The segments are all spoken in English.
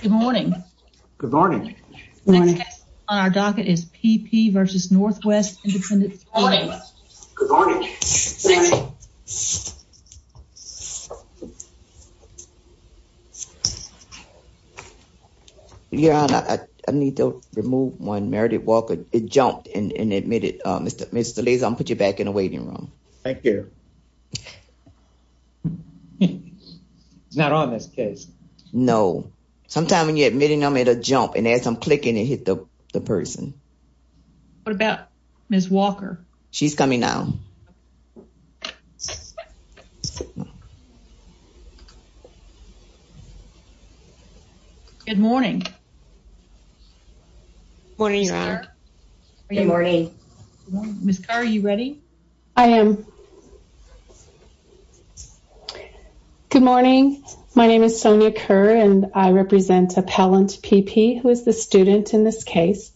Good morning. Good morning. On our docket is P. P. v. Northwest Independent School District. Good morning. Yeah, I need to remove one Meredith Walker. It jumped and admitted Mr. Mr. lays on put Thank you. Not on this case. No. Sometimes when you're admitting I'm at a jump and as I'm clicking and hit the person. What about Miss Walker. She's coming now. Good morning. Morning. Good morning. Are you ready. I am. Good morning. My name is Sonia Kerr and I represent appellant P.P. who is the student in this case.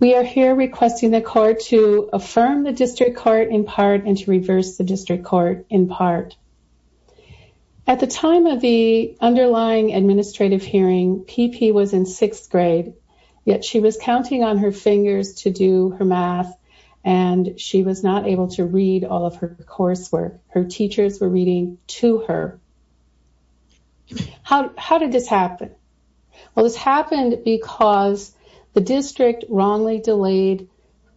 We are here requesting the court to affirm the district court in part and to reverse the district court in part. At the time of the underlying administrative hearing P.P. was in sixth grade. Yet she was counting on her fingers to do her math and she was not able to read all of her coursework. Her teachers were reading to her. How did this happen. Well, this happened because the district wrongly delayed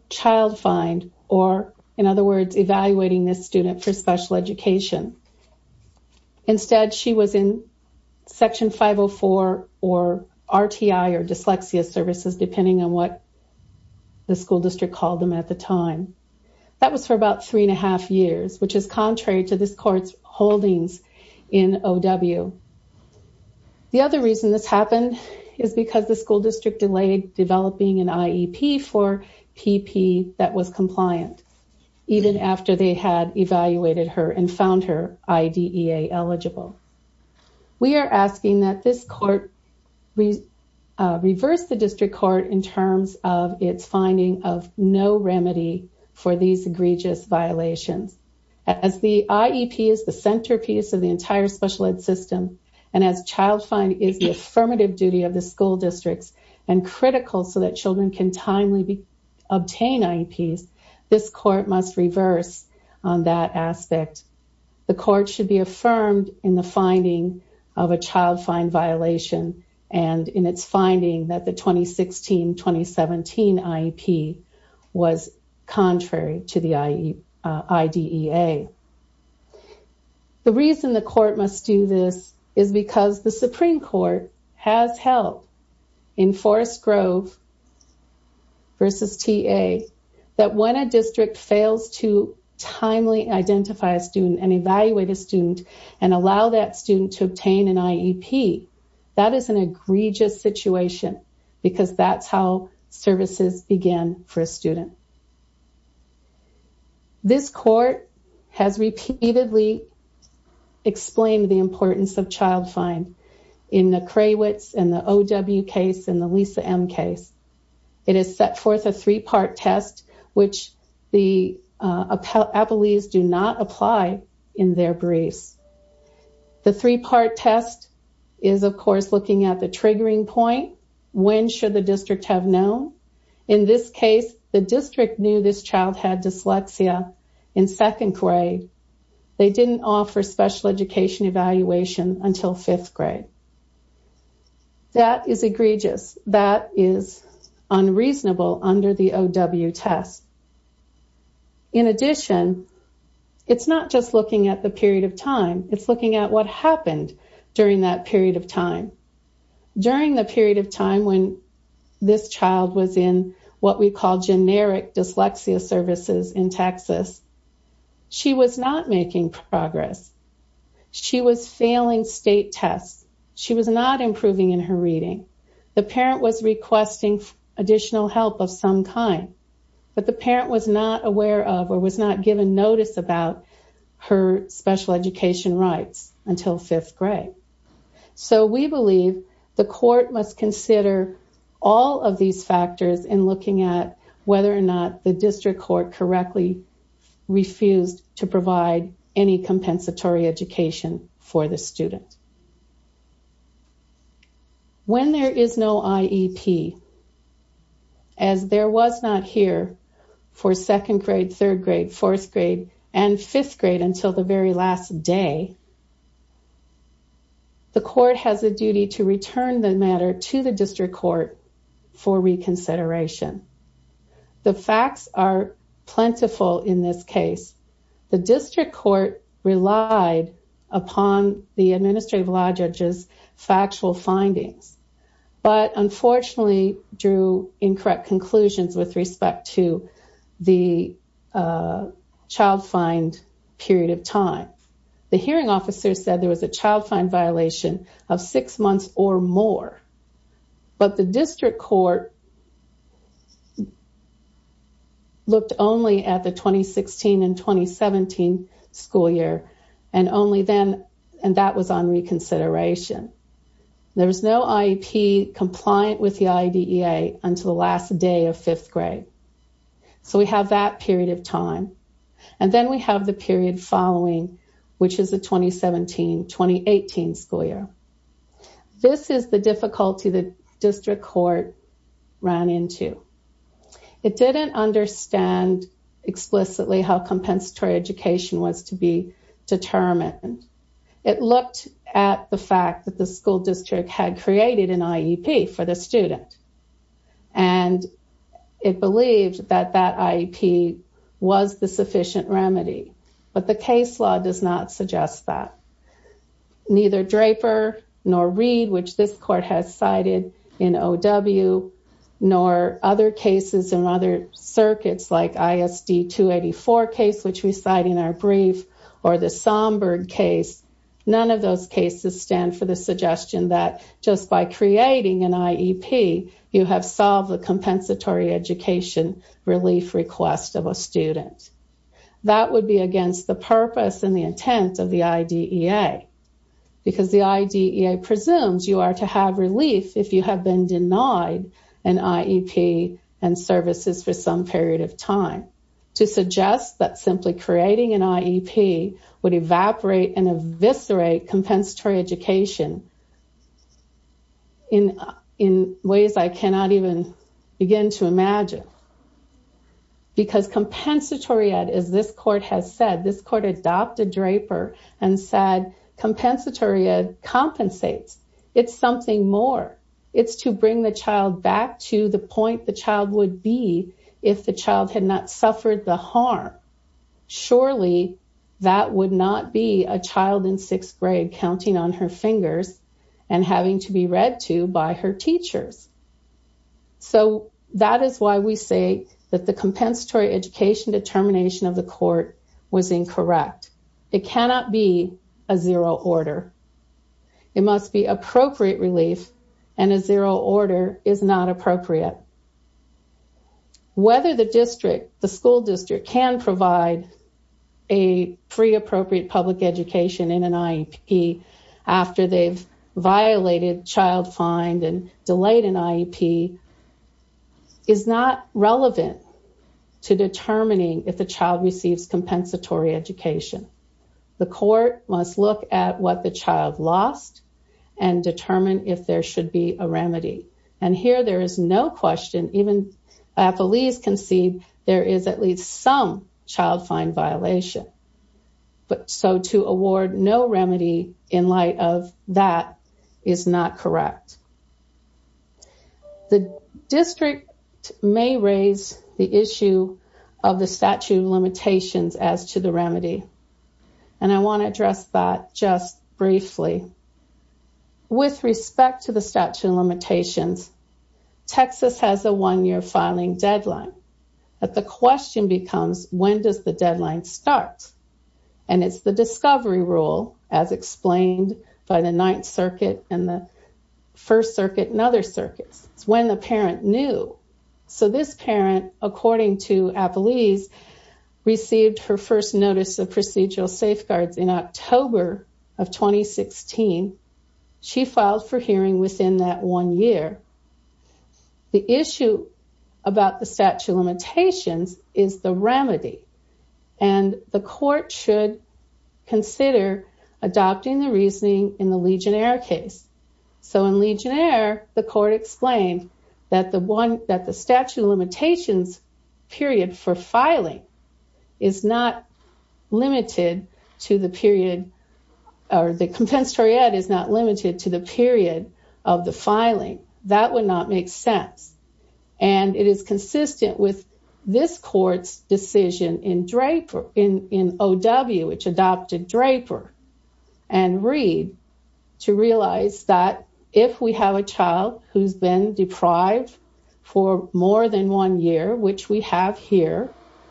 child find or, in other words, evaluating this student for special education. Instead, she was in section 504 or RTI or dyslexia services, depending on what the school district called them at the time. That was for about three and a half years, which is contrary to this court's holdings in O.W. The other reason this happened is because the school district delayed developing an IEP for P.P. that was compliant. Even after they had evaluated her and found her I.D.E.A eligible. We are asking that this court reverse the district court in terms of its finding of no remedy for these egregious violations. As the IEP is the centerpiece of the entire special ed system. And as child find is the affirmative duty of the school districts and critical so that children can timely obtain IEPs. This court must reverse on that aspect. The court should be affirmed in the finding of a child find violation and in its finding that the 2016-2017 IEP was contrary to the I.D.E.A. The reason the court must do this is because the Supreme Court has held in Forest Grove v. T.A. that when a district fails to timely identify a student and evaluate a student and allow that student to obtain an IEP, that is an egregious situation because that's how services begin for a student. This court has repeatedly explained the importance of child find in the Krawitz and the O.W. case and the Lisa M. case. It has set forth a three-part test which the appellees do not apply in their briefs. The three-part test is, of course, looking at the triggering point. When should the district have known? In this case, the district knew this child had dyslexia in second grade. They didn't offer special education evaluation until fifth grade. That is egregious. That is unreasonable under the O.W. test. In addition, it's not just looking at the period of time. It's looking at what happened during that period of time. During the period of time when this child was in what we call generic dyslexia services in Texas, she was not making progress. She was failing state tests. She was not improving in her reading. The parent was requesting additional help of some kind, but the parent was not aware of or was not given notice about her special education rights until fifth grade. So we believe the court must consider all of these factors in looking at whether or not the district court correctly refused to provide any compensatory education for the student. When there is no IEP, as there was not here for second grade, third grade, fourth grade, and fifth grade until the very last day, the court has a duty to return the matter to the district court for reconsideration. The facts are plentiful in this case. The district court relied upon the administrative law judge's factual findings, but unfortunately drew incorrect conclusions with respect to the child fined period of time. The hearing officer said there was a child fine violation of six months or more, but the district court looked only at the 2016 and 2017 school year, and that was on reconsideration. There was no IEP compliant with the IDEA until the last day of fifth grade. So we have that period of time. And then we have the period following, which is the 2017-2018 school year. This is the difficulty the district court ran into. It didn't understand explicitly how compensatory education was to be determined. It looked at the fact that the school district had created an IEP for the student, and it believed that that IEP was the sufficient remedy. But the case law does not suggest that. Neither Draper nor Reed, which this court has cited in OW, nor other cases in other circuits like ISD 284 case, which we cite in our brief, or the Somburg case, none of those cases stand for the suggestion that just by creating an IEP, you have solved the compensatory education relief request of a student. That would be against the purpose and the intent of the IDEA, because the IDEA presumes you are to have relief if you have been denied an IEP and services for some period of time. And to suggest that simply creating an IEP would evaporate and eviscerate compensatory education in ways I cannot even begin to imagine. Because compensatory ed, as this court has said, this court adopted Draper and said compensatory ed compensates. It's something more. It's to bring the child back to the point the child would be if the child had not suffered the harm. Surely that would not be a child in sixth grade counting on her fingers and having to be read to by her teachers. So that is why we say that the compensatory education determination of the court was incorrect. It cannot be a zero order. It must be appropriate relief, and a zero order is not appropriate. Whether the school district can provide a free appropriate public education in an IEP after they've violated child find and delayed an IEP is not relevant to determining if the child receives compensatory education. The court must look at what the child lost and determine if there should be a remedy. And here there is no question. Even affilees concede there is at least some child find violation. So to award no remedy in light of that is not correct. The district may raise the issue of the statute of limitations as to the remedy. And I want to address that just briefly. With respect to the statute of limitations, Texas has a one-year filing deadline. But the question becomes, when does the deadline start? And it's the discovery rule as explained by the Ninth Circuit and the First Circuit and other circuits. It's when the parent knew. So this parent, according to affilees, received her first notice of procedural safeguards in October of 2016. She filed for hearing within that one year. The issue about the statute of limitations is the remedy. And the court should consider adopting the reasoning in the Legionnaire case. So in Legionnaire, the court explained that the statute of limitations period for filing is not limited to the period, or the compensatory ed is not limited to the period of the filing. That would not make sense. And it is consistent with this court's decision in O.W., which adopted Draper and Reed, to realize that if we have a child who's been deprived for more than one year, which we have here,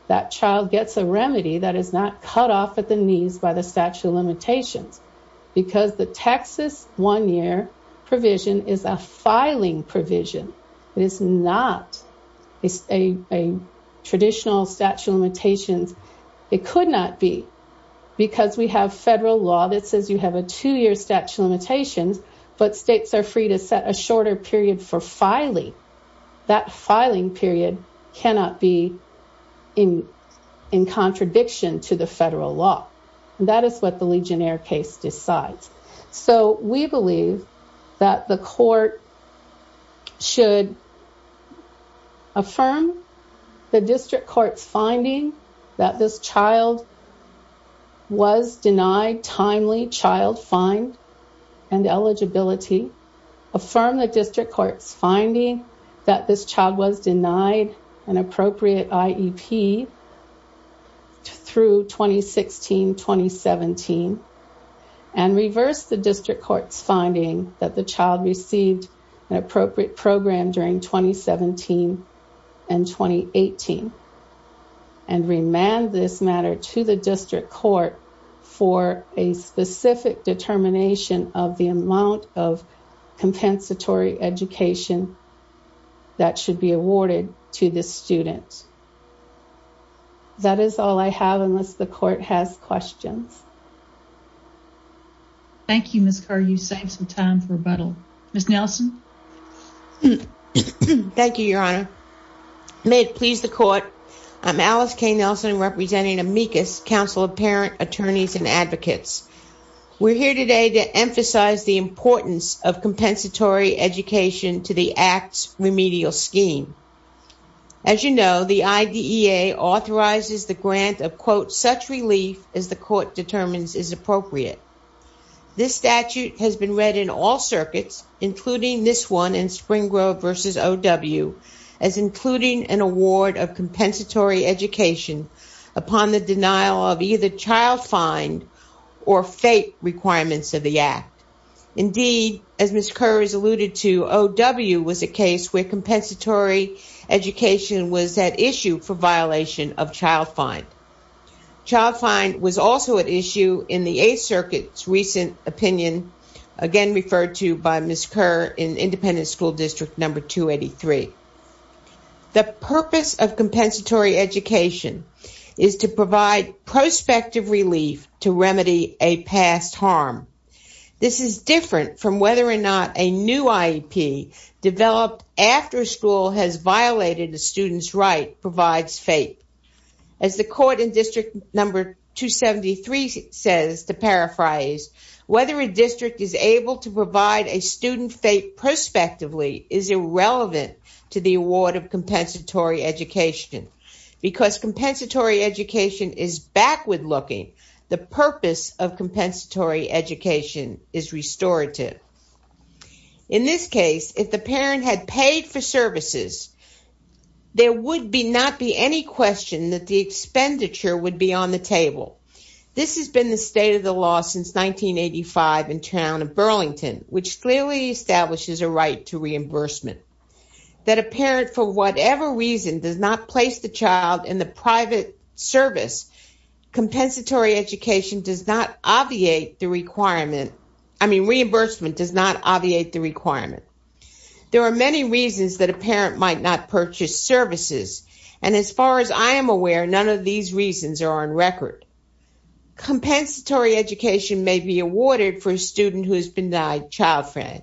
that child gets a remedy that is not cut off at the knees by the statute of limitations. Because the Texas one-year provision is a filing provision. It is not a traditional statute of limitations. It could not be. Because we have federal law that says you have a two-year statute of limitations, but states are free to set a shorter period for filing. That filing period cannot be in contradiction to the federal law. And that is what the Legionnaire case decides. So we believe that the court should affirm the district court's finding that this child was denied timely child find and eligibility, affirm the district court's finding that this child was denied an appropriate IEP through 2016-2017, and reverse the district court's finding that the child received an appropriate program during 2017 and 2018, and remand this matter to the district court for a specific determination of the amount of compensatory education that should be awarded to this student. That is all I have unless the court has questions. Thank you, Ms. Kerr. You saved some time for rebuttal. Ms. Nelson? Thank you, Your Honor. May it please the court, I'm Alice K. Nelson, representing amicus, Council of Parent Attorneys and Advocates. We're here today to emphasize the importance of compensatory education to the Act's remedial scheme. As you know, the IDEA authorizes the grant of, quote, such relief as the court determines is appropriate. This statute has been read in all circuits, including this one in Spring Grove v. O.W., as including an award of compensatory education upon the denial of either child find or FAPE requirements of the Act. Indeed, as Ms. Kerr has alluded to, O.W. was a case where compensatory education was at issue for violation of child find. Child find was also at issue in the Eighth Circuit's recent opinion, again referred to by Ms. Kerr in Independent School District No. 283. The purpose of compensatory education is to provide prospective relief to remedy a past harm. This is different from whether or not a new IEP developed after a school has violated a student's right provides FAPE. As the court in District No. 273 says, to paraphrase, whether a district is able to provide a student FAPE prospectively is irrelevant to the award of compensatory education because compensatory education is backward-looking. The purpose of compensatory education is restorative. In this case, if the parent had paid for services, there would not be any question that the expenditure would be on the table. This has been the state of the law since 1985 in town of Burlington, which clearly establishes a right to reimbursement. That a parent, for whatever reason, does not place the child in the private service, compensatory education does not obviate the requirement. I mean, reimbursement does not obviate the requirement. There are many reasons that a parent might not purchase services, and as far as I am aware, none of these reasons are on record. Compensatory education may be awarded for a student who has denied child-friend.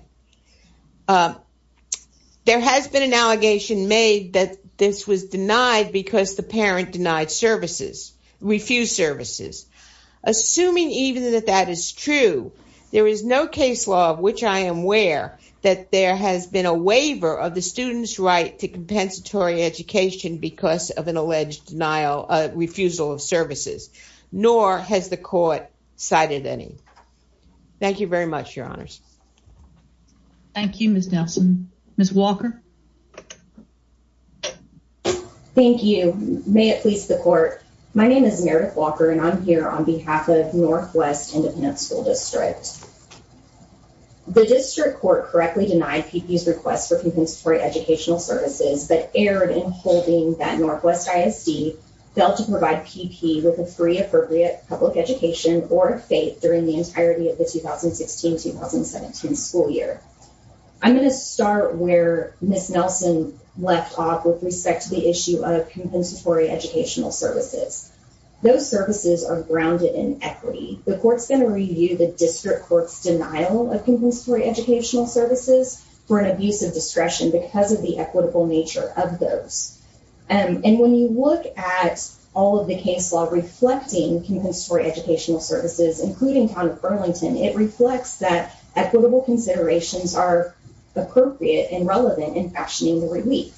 There has been an allegation made that this was denied because the parent denied services, refused services. Assuming even that that is true, there is no case law of which I am aware that there has been a waiver of the student's right to compensatory education because of an alleged refusal of services, nor has the court cited any. Thank you very much, your honors. Thank you, Ms. Nelson. Ms. Walker? Thank you. May it please the court, my name is Meredith Walker, and I'm here on behalf of Northwest Independent School District. The district court correctly denied PPE's request for compensatory educational services, but erred in holding that Northwest ISD failed to provide PPE with a free, appropriate public education or a FATE during the entirety of the 2016-2017 school year. I'm going to start where Ms. Nelson left off with respect to the issue of compensatory educational services. Those services are grounded in equity. The court's going to review the district court's denial of compensatory educational services for an abuse of discretion because of the equitable nature of those. And when you look at all of the case law reflecting compensatory educational services, including Town of Burlington, it reflects that equitable considerations are appropriate and relevant in fashioning the relief.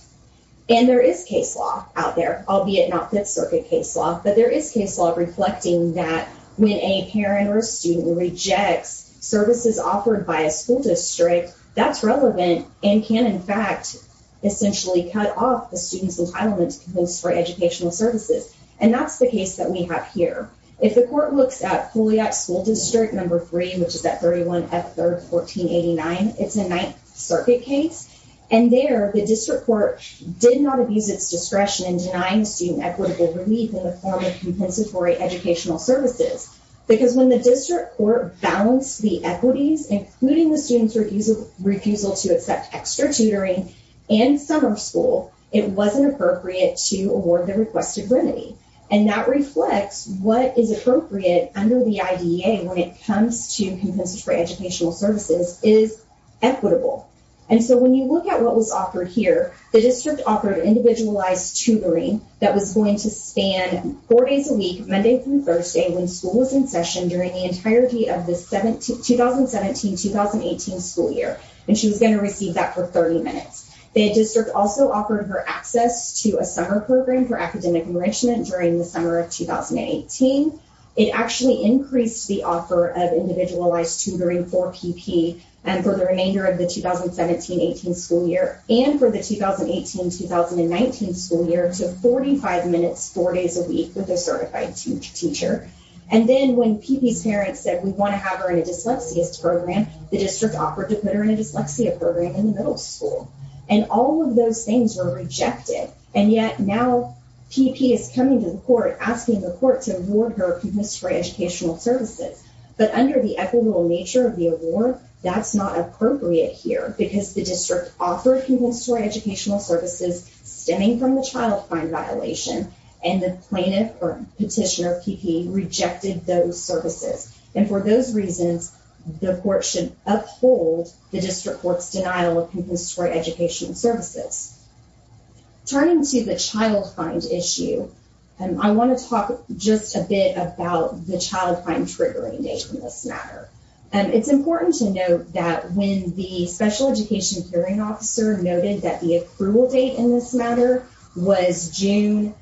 And there is case law out there, albeit not Fifth Circuit case law, but there is case law reflecting that when a parent or student rejects services offered by a school district, that's relevant and can, in fact, essentially cut off the student's entitlement for educational services. And that's the case that we have here. If the court looks at Fouliot School District No. 3, which is at 31 F. 3rd, 1489, it's a Ninth Circuit case. And there, the district court did not abuse its discretion in denying student equitable relief in the form of compensatory educational services. Because when the district court balanced the equities, including the student's refusal to accept extra tutoring and summer school, it wasn't appropriate to award the requested remedy. And that reflects what is appropriate under the IDEA when it comes to compensatory educational services is equitable. And so when you look at what was offered here, the district offered individualized tutoring that was going to span four days a week, Monday through Thursday, when school was in session during the entirety of the 2017-2018 school year. And she was going to receive that for 30 minutes. The district also offered her access to a summer program for academic enrichment during the summer of 2018. It actually increased the offer of individualized tutoring for PP for the remainder of the 2017-18 school year and for the 2018-2019 school year to 45 minutes, four days a week with a certified teacher. And then when PP's parents said, we want to have her in a dyslexia program, the district offered to put her in a dyslexia program in the middle school. And all of those things were rejected. And yet now, PP is coming to the court, asking the court to award her a compensatory educational services. But under the equitable nature of the award, that's not appropriate here because the district offered compensatory educational services stemming from the child find violation, and the plaintiff or petitioner of PP rejected those services. And for those reasons, the court should uphold the district court's denial of compensatory educational services. Turning to the child find issue, I want to talk just a bit about the child find triggering date in this matter. It's important to note that when the special education hearing officer noted that the approval date in this matter was June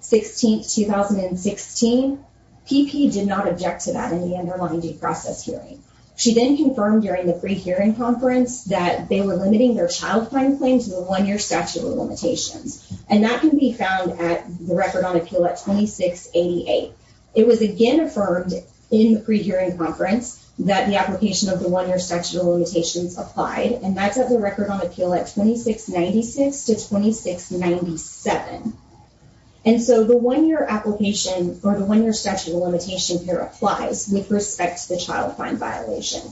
16, 2016, PP did not object to that in the underlying due process hearing. She then confirmed during the pre-hearing conference that they were limiting their child find claim to the one-year statute of limitations. And that can be found at the Record on Appeal at 2688. It was again affirmed in the pre-hearing conference that the application of the one-year statute of limitations applied. And that's at the Record on Appeal at 2696 to 2697. And so the one-year application or the one-year statute of limitations here applies with respect to the child find violation.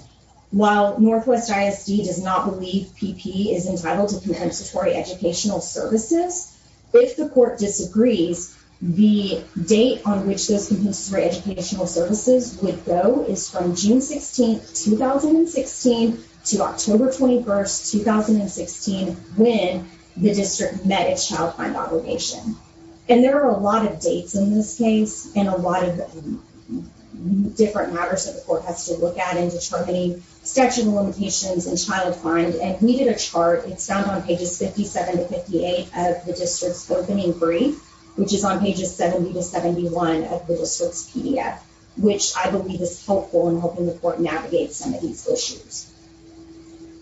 While Northwest ISD does not believe PP is entitled to compensatory educational services, if the court disagrees, the date on which those compensatory educational services would go is from June 16, 2016, to October 21, 2016, when the district met its child find obligation. And there are a lot of dates in this case and a lot of different matters that the court has to look at in determining statute of limitations and child find. And we did a chart. It's found on pages 57 to 58 of the district's opening brief, which is on pages 70 to 71 of the district's PDF, which I believe is helpful in helping the court navigate some of these issues.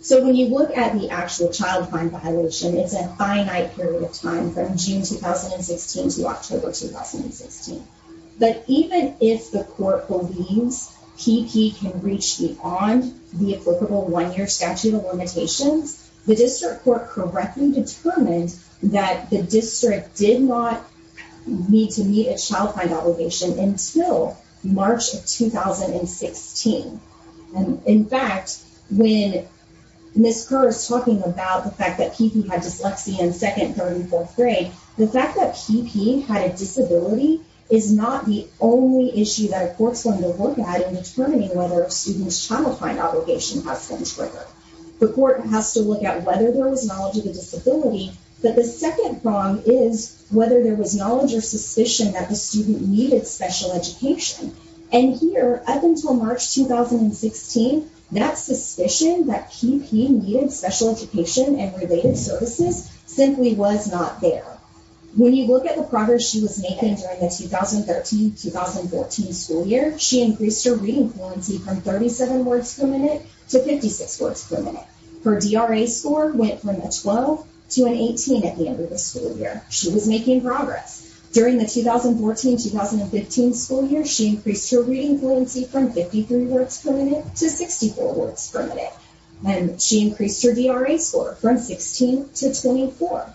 So when you look at the actual child find violation, it's a finite period of time from June 2016 to October 2016. But even if the court believes PP can reach beyond the applicable one-year statute of limitations, the district court correctly determined that the district did not need to meet a child find obligation until March of 2016. And in fact, when Ms. Kerr is talking about the fact that PP had dyslexia in second, third, and fourth grade, the fact that PP had a disability is not the only issue that a court's going to look at in determining whether a student's child find obligation has been triggered. The court has to look at whether there was knowledge of a disability, but the second prong is whether there was knowledge or suspicion that the student needed special education. And here, up until March 2016, that suspicion that PP needed special education and related services simply was not there. When you look at the progress she was making during the 2013-2014 school year, she increased her reading fluency from 37 words per minute to 56 words per minute. Her DRA score went from a 12 to an 18 at the end of the school year. She was making progress. During the 2014-2015 school year, she increased her reading fluency from 53 words per minute to 64 words per minute. And she increased her DRA score from 16 to 24.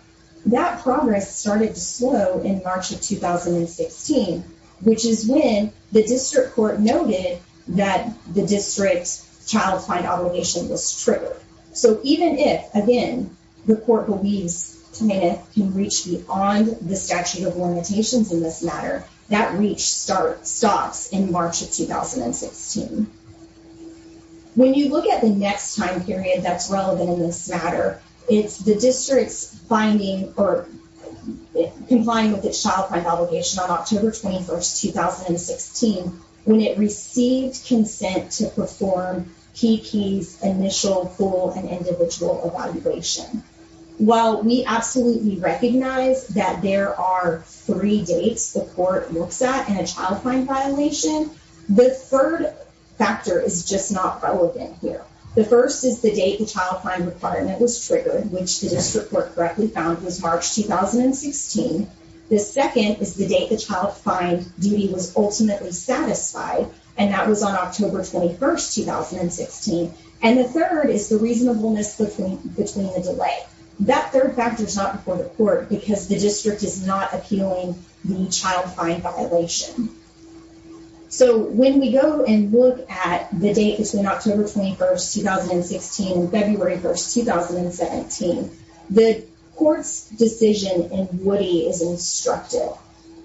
That progress started to slow in March of 2016, which is when the district court noted that the district's child find obligation was triggered. So even if, again, the court believes Tamina can reach beyond the statute of limitations in this matter, that reach stops in March of 2016. When you look at the next time period that's relevant in this matter, it's the district's finding or complying with its child find obligation on October 21, 2016, when it received consent to perform Kiki's initial full and individual evaluation. While we absolutely recognize that there are three dates the court looks at in a child find violation, the third factor is just not relevant here. The first is the date the child find requirement was triggered, which the district court correctly found was March 2016. The second is the date the child find duty was ultimately satisfied, and that was on October 21, 2016. And the third is the reasonableness between the delay. That third factor is not before the court because the district is not appealing the child find violation. So when we go and look at the date between October 21, 2016 and February 1, 2017, the court's decision in Woody is instructive.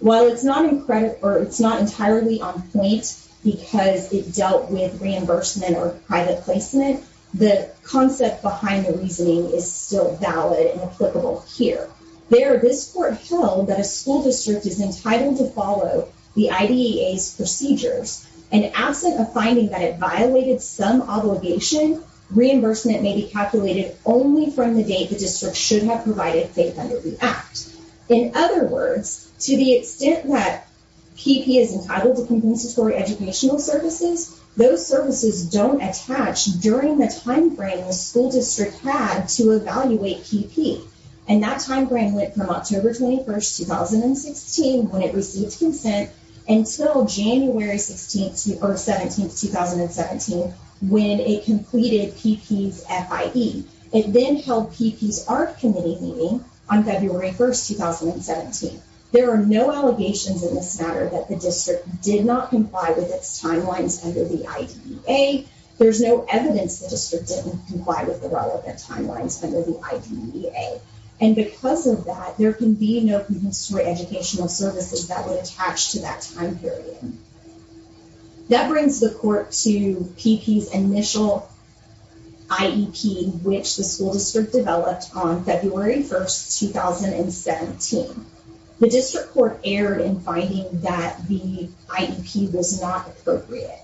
While it's not entirely on point because it dealt with reimbursement or private placement, the concept behind the reasoning is still valid and applicable here. There, this court held that a school district is entitled to follow the IDEA's procedures, and absent a finding that it violated some obligation, reimbursement may be calculated only from the date the district should have provided faith under the act. In other words, to the extent that PP is entitled to compensatory educational services, those services don't attach during the time frame the school district had to evaluate PP. And that time frame went from October 21, 2016, when it received consent, until January 17, 2017, when it completed PP's FIE. It then held PP's ARC Committee meeting on February 1, 2017. There are no allegations in this matter that the district did not comply with its timelines under the IDEA. There's no evidence the district didn't comply with the relevant timelines under the IDEA. And because of that, there can be no compensatory educational services that would attach to that time period. That brings the court to PP's initial IEP, which the school district developed on February 1, 2017. The district court erred in finding that the IEP was not appropriate.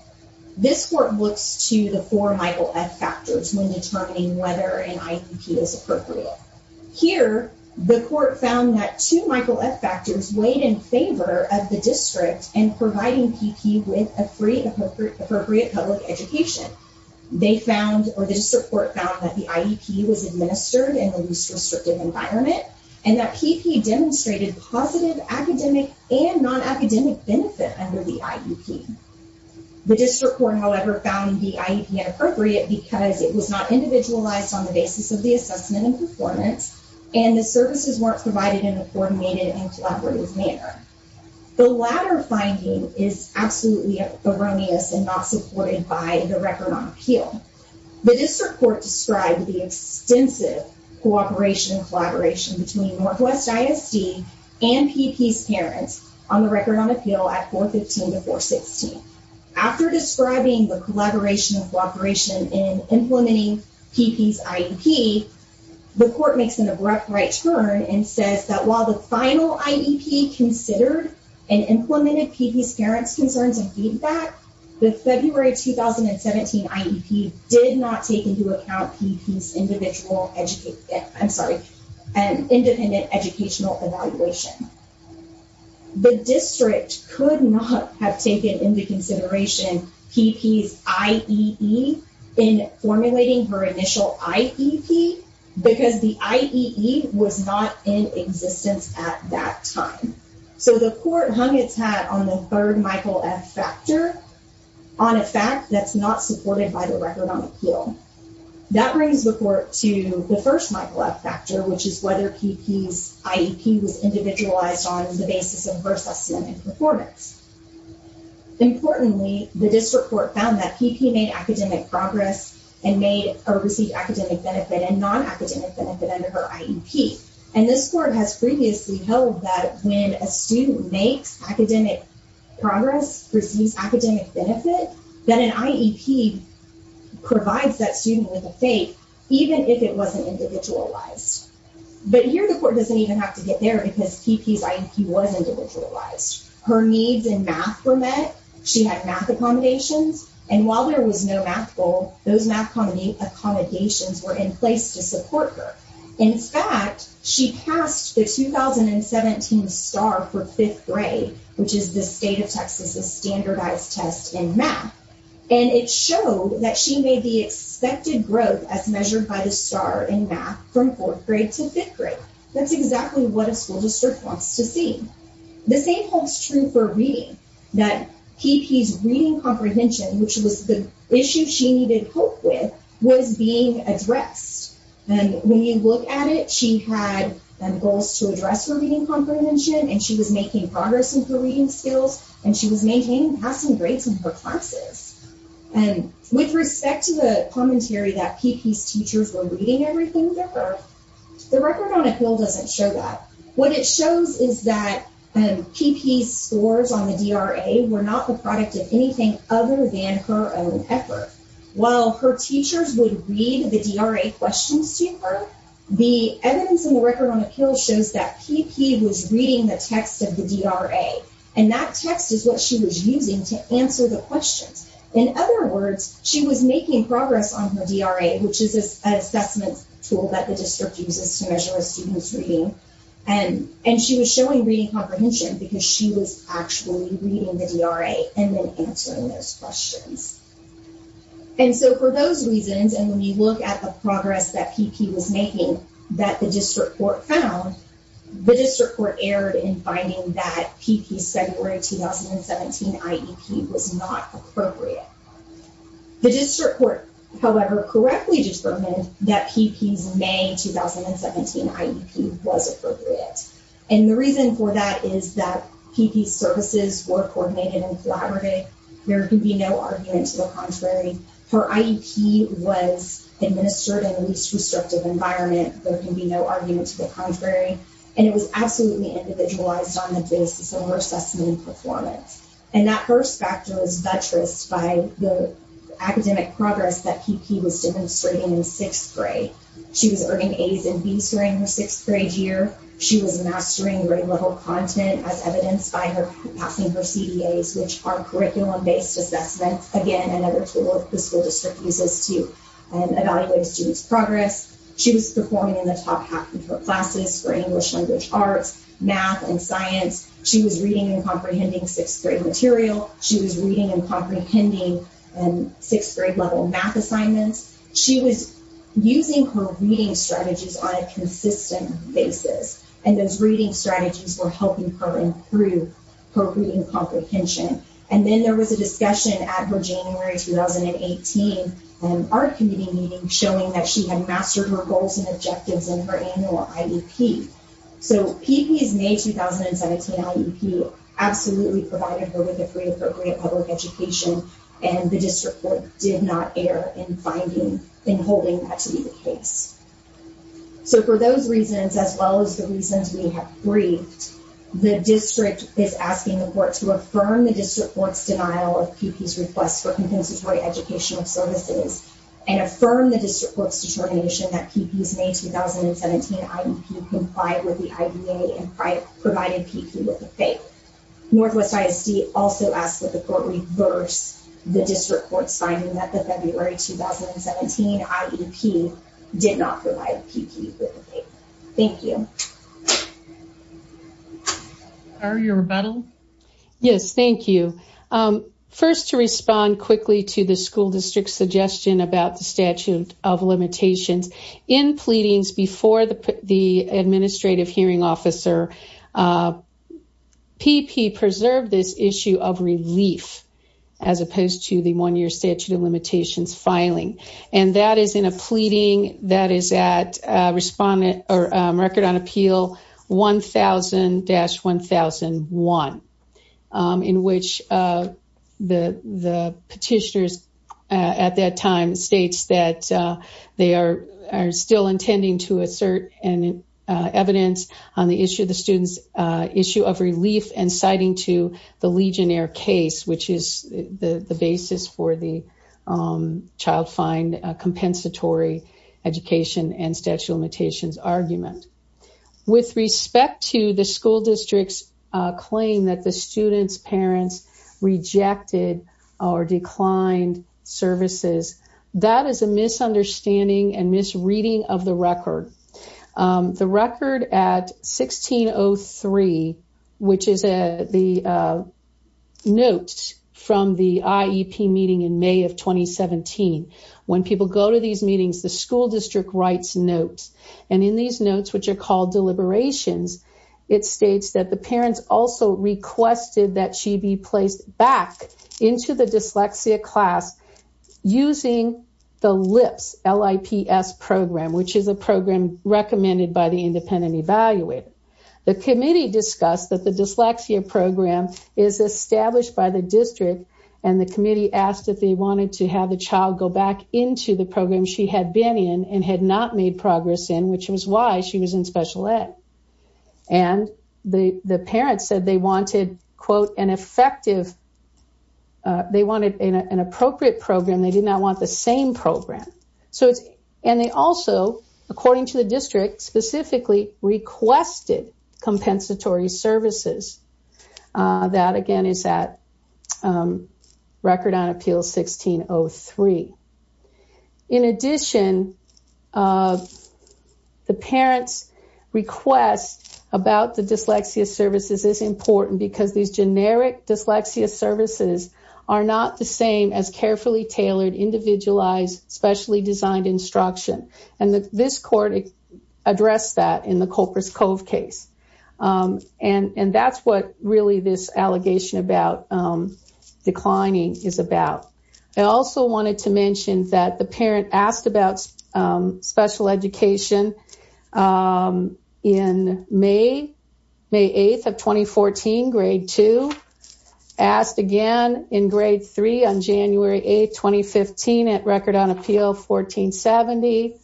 This court looks to the four Michael F. factors when determining whether an IEP is appropriate. Here, the court found that two Michael F. factors weighed in favor of the district in providing PP with a free, appropriate public education. They found, or the district court found, that the IEP was administered in the least restrictive environment, and that PP demonstrated positive academic and non-academic benefit under the IEP. The district court, however, found the IEP inappropriate because it was not individualized on the basis of the assessment and performance, and the services weren't provided in a coordinated and collaborative manner. The latter finding is absolutely erroneous and not supported by the record on appeal. The district court described the extensive cooperation and collaboration between Northwest ISD and PP's parents on the record on appeal at 415 to 416. After describing the collaboration and cooperation in implementing PP's IEP, the court makes an abrupt right turn and says that while the final IEP considered and implemented PP's parents' concerns and feedback, the February 2017 IEP did not take into account PP's independent educational evaluation. The district could not have taken into consideration PP's IEE in formulating her initial IEP because the IEE was not in existence at that time. So the court hung its hat on the third Michael F. factor on a fact that's not supported by the record on appeal. That brings the court to the first Michael F. factor, which is whether PP's IEP was individualized on the basis of her assessment and performance. Importantly, the district court found that PP made academic progress and received academic benefit and non-academic benefit under her IEP, and this court has previously held that when a student makes academic progress, receives academic benefit, that an IEP provides that student with a fate even if it wasn't individualized. But here the court doesn't even have to get there because PP's IEP was individualized. Her needs in math were met, she had math accommodations, and while there was no math goal, those math accommodations were in place to support her. In fact, she passed the 2017 STAAR for fifth grade, which is the state of Texas' standardized test in math, and it showed that she made the expected growth as measured by the STAAR in math from fourth grade to fifth grade. That's exactly what a school district wants to see. The same holds true for reading, that PP's reading comprehension, which was the issue she needed help with, was being addressed. And when you look at it, she had goals to address her reading comprehension, and she was making progress in her reading skills, and she was maintaining passing grades in her classes. And with respect to the commentary that PP's teachers were reading everything for her, the record on a pill doesn't show that. What it shows is that PP's scores on the DRA were not the product of anything other than her own effort. While her teachers would read the DRA questions to her, the evidence in the record on the pill shows that PP was reading the text of the DRA, and that text is what she was using to answer the questions. In other words, she was making progress on her DRA, which is an assessment tool that the district uses to measure a student's reading, and she was showing reading comprehension because she was actually reading the DRA and then answering those questions. And so for those reasons, and when you look at the progress that PP was making that the district court found, the district court erred in finding that PP's February 2017 IEP was not appropriate. The district court, however, correctly determined that PP's May 2017 IEP was appropriate. And the reason for that is that PP's services were coordinated and collaborative. There can be no argument to the contrary. Her IEP was administered in a least restrictive environment. There can be no argument to the contrary. And it was absolutely individualized on the basis of her assessment and performance. And that first factor was buttressed by the academic progress that PP was demonstrating in sixth grade. She was earning A's and B's during her sixth grade year. She was mastering grade-level content, as evidenced by her passing her CEAs, which are curriculum-based assessments, again, another tool the school district uses to evaluate a student's progress. She was performing in the top half of her classes for English language arts, math, and science. She was reading and comprehending sixth-grade material. She was reading and comprehending sixth-grade-level math assignments. She was using her reading strategies on a consistent basis. And those reading strategies were helping her improve her reading comprehension. And then there was a discussion at her January 2018 art committee meeting showing that she had mastered her goals and objectives in her annual IEP. So PP's May 2017 IEP absolutely provided her with a free, appropriate public education. And the district court did not err in finding, in holding that to be the case. So for those reasons, as well as the reasons we have briefed, the district is asking the court to affirm the district court's denial of PP's request for compensatory educational services and affirm the district court's determination that PP's May 2017 IEP complied with the IDA and provided PP with the pay. Northwest ISD also asks that the court reverse the district court's finding that the February 2017 IEP did not provide PP with the pay. Thank you. Are you rebuttal? Yes, thank you. First, to respond quickly to the school district's suggestion about the statute of limitations, in pleadings before the administrative hearing officer, PP preserved this issue of relief as opposed to the one-year statute of limitations filing. And that is in a pleading that is at Record on Appeal 1000-1001, in which the petitioner at that time states that they are still intending to assert evidence on the issue of the student's issue of relief and citing to the Legionnaire case, which is the basis for the child fine compensatory education and statute of limitations argument. With respect to the school district's claim that the student's parents rejected or declined services, that is a misunderstanding and misreading of the record. The record at 1603, which is the note from the IEP meeting in May of 2017, when people go to these meetings, the school district writes notes. And in these notes, which are called deliberations, it states that the parents also requested that she be placed back into the dyslexia class using the LIPS, L-I-P-S program, which is a program recommended by the independent evaluator. The committee discussed that the dyslexia program is established by the district, and the committee asked if they wanted to have the child go back into the program she had been in and had not made progress in, which was why she was in special ed. And the parents said they wanted, quote, an effective—they wanted an appropriate program. They did not want the same program. And they also, according to the district, specifically requested compensatory services. That, again, is at Record on Appeal 1603. In addition, the parents' request about the dyslexia services is important because these generic dyslexia services are not the same as carefully tailored, individualized, specially designed instruction. And this court addressed that in the Culper's Cove case. And that's what, really, this allegation about declining is about. I also wanted to mention that the parent asked about special education in May 8th of 2014, Grade 2. Asked again in Grade 3 on January 8th, 2015, at Record on Appeal 1470.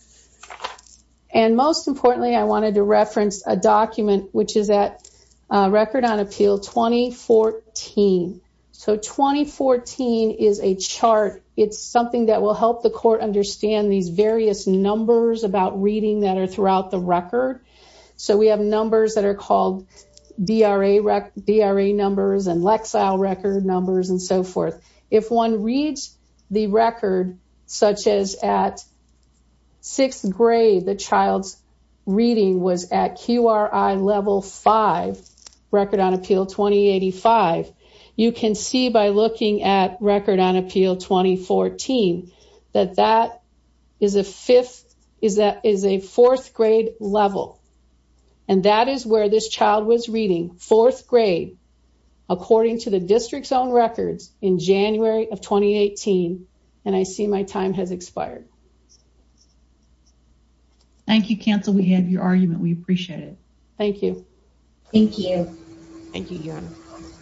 And most importantly, I wanted to reference a document, which is at Record on Appeal 2014. So 2014 is a chart. It's something that will help the court understand these various numbers about reading that are throughout the record. So we have numbers that are called DRA numbers and Lexile record numbers and so forth. If one reads the record, such as at 6th grade, the child's reading was at QRI Level 5, Record on Appeal 2085, you can see by looking at Record on Appeal 2014 that that is a 4th grade level. And that is where this child was reading 4th grade, according to the district's own records, in January of 2018. And I see my time has expired. Thank you, Counsel. We have your argument. We appreciate it. Thank you. Thank you. Thank you, Your Honor.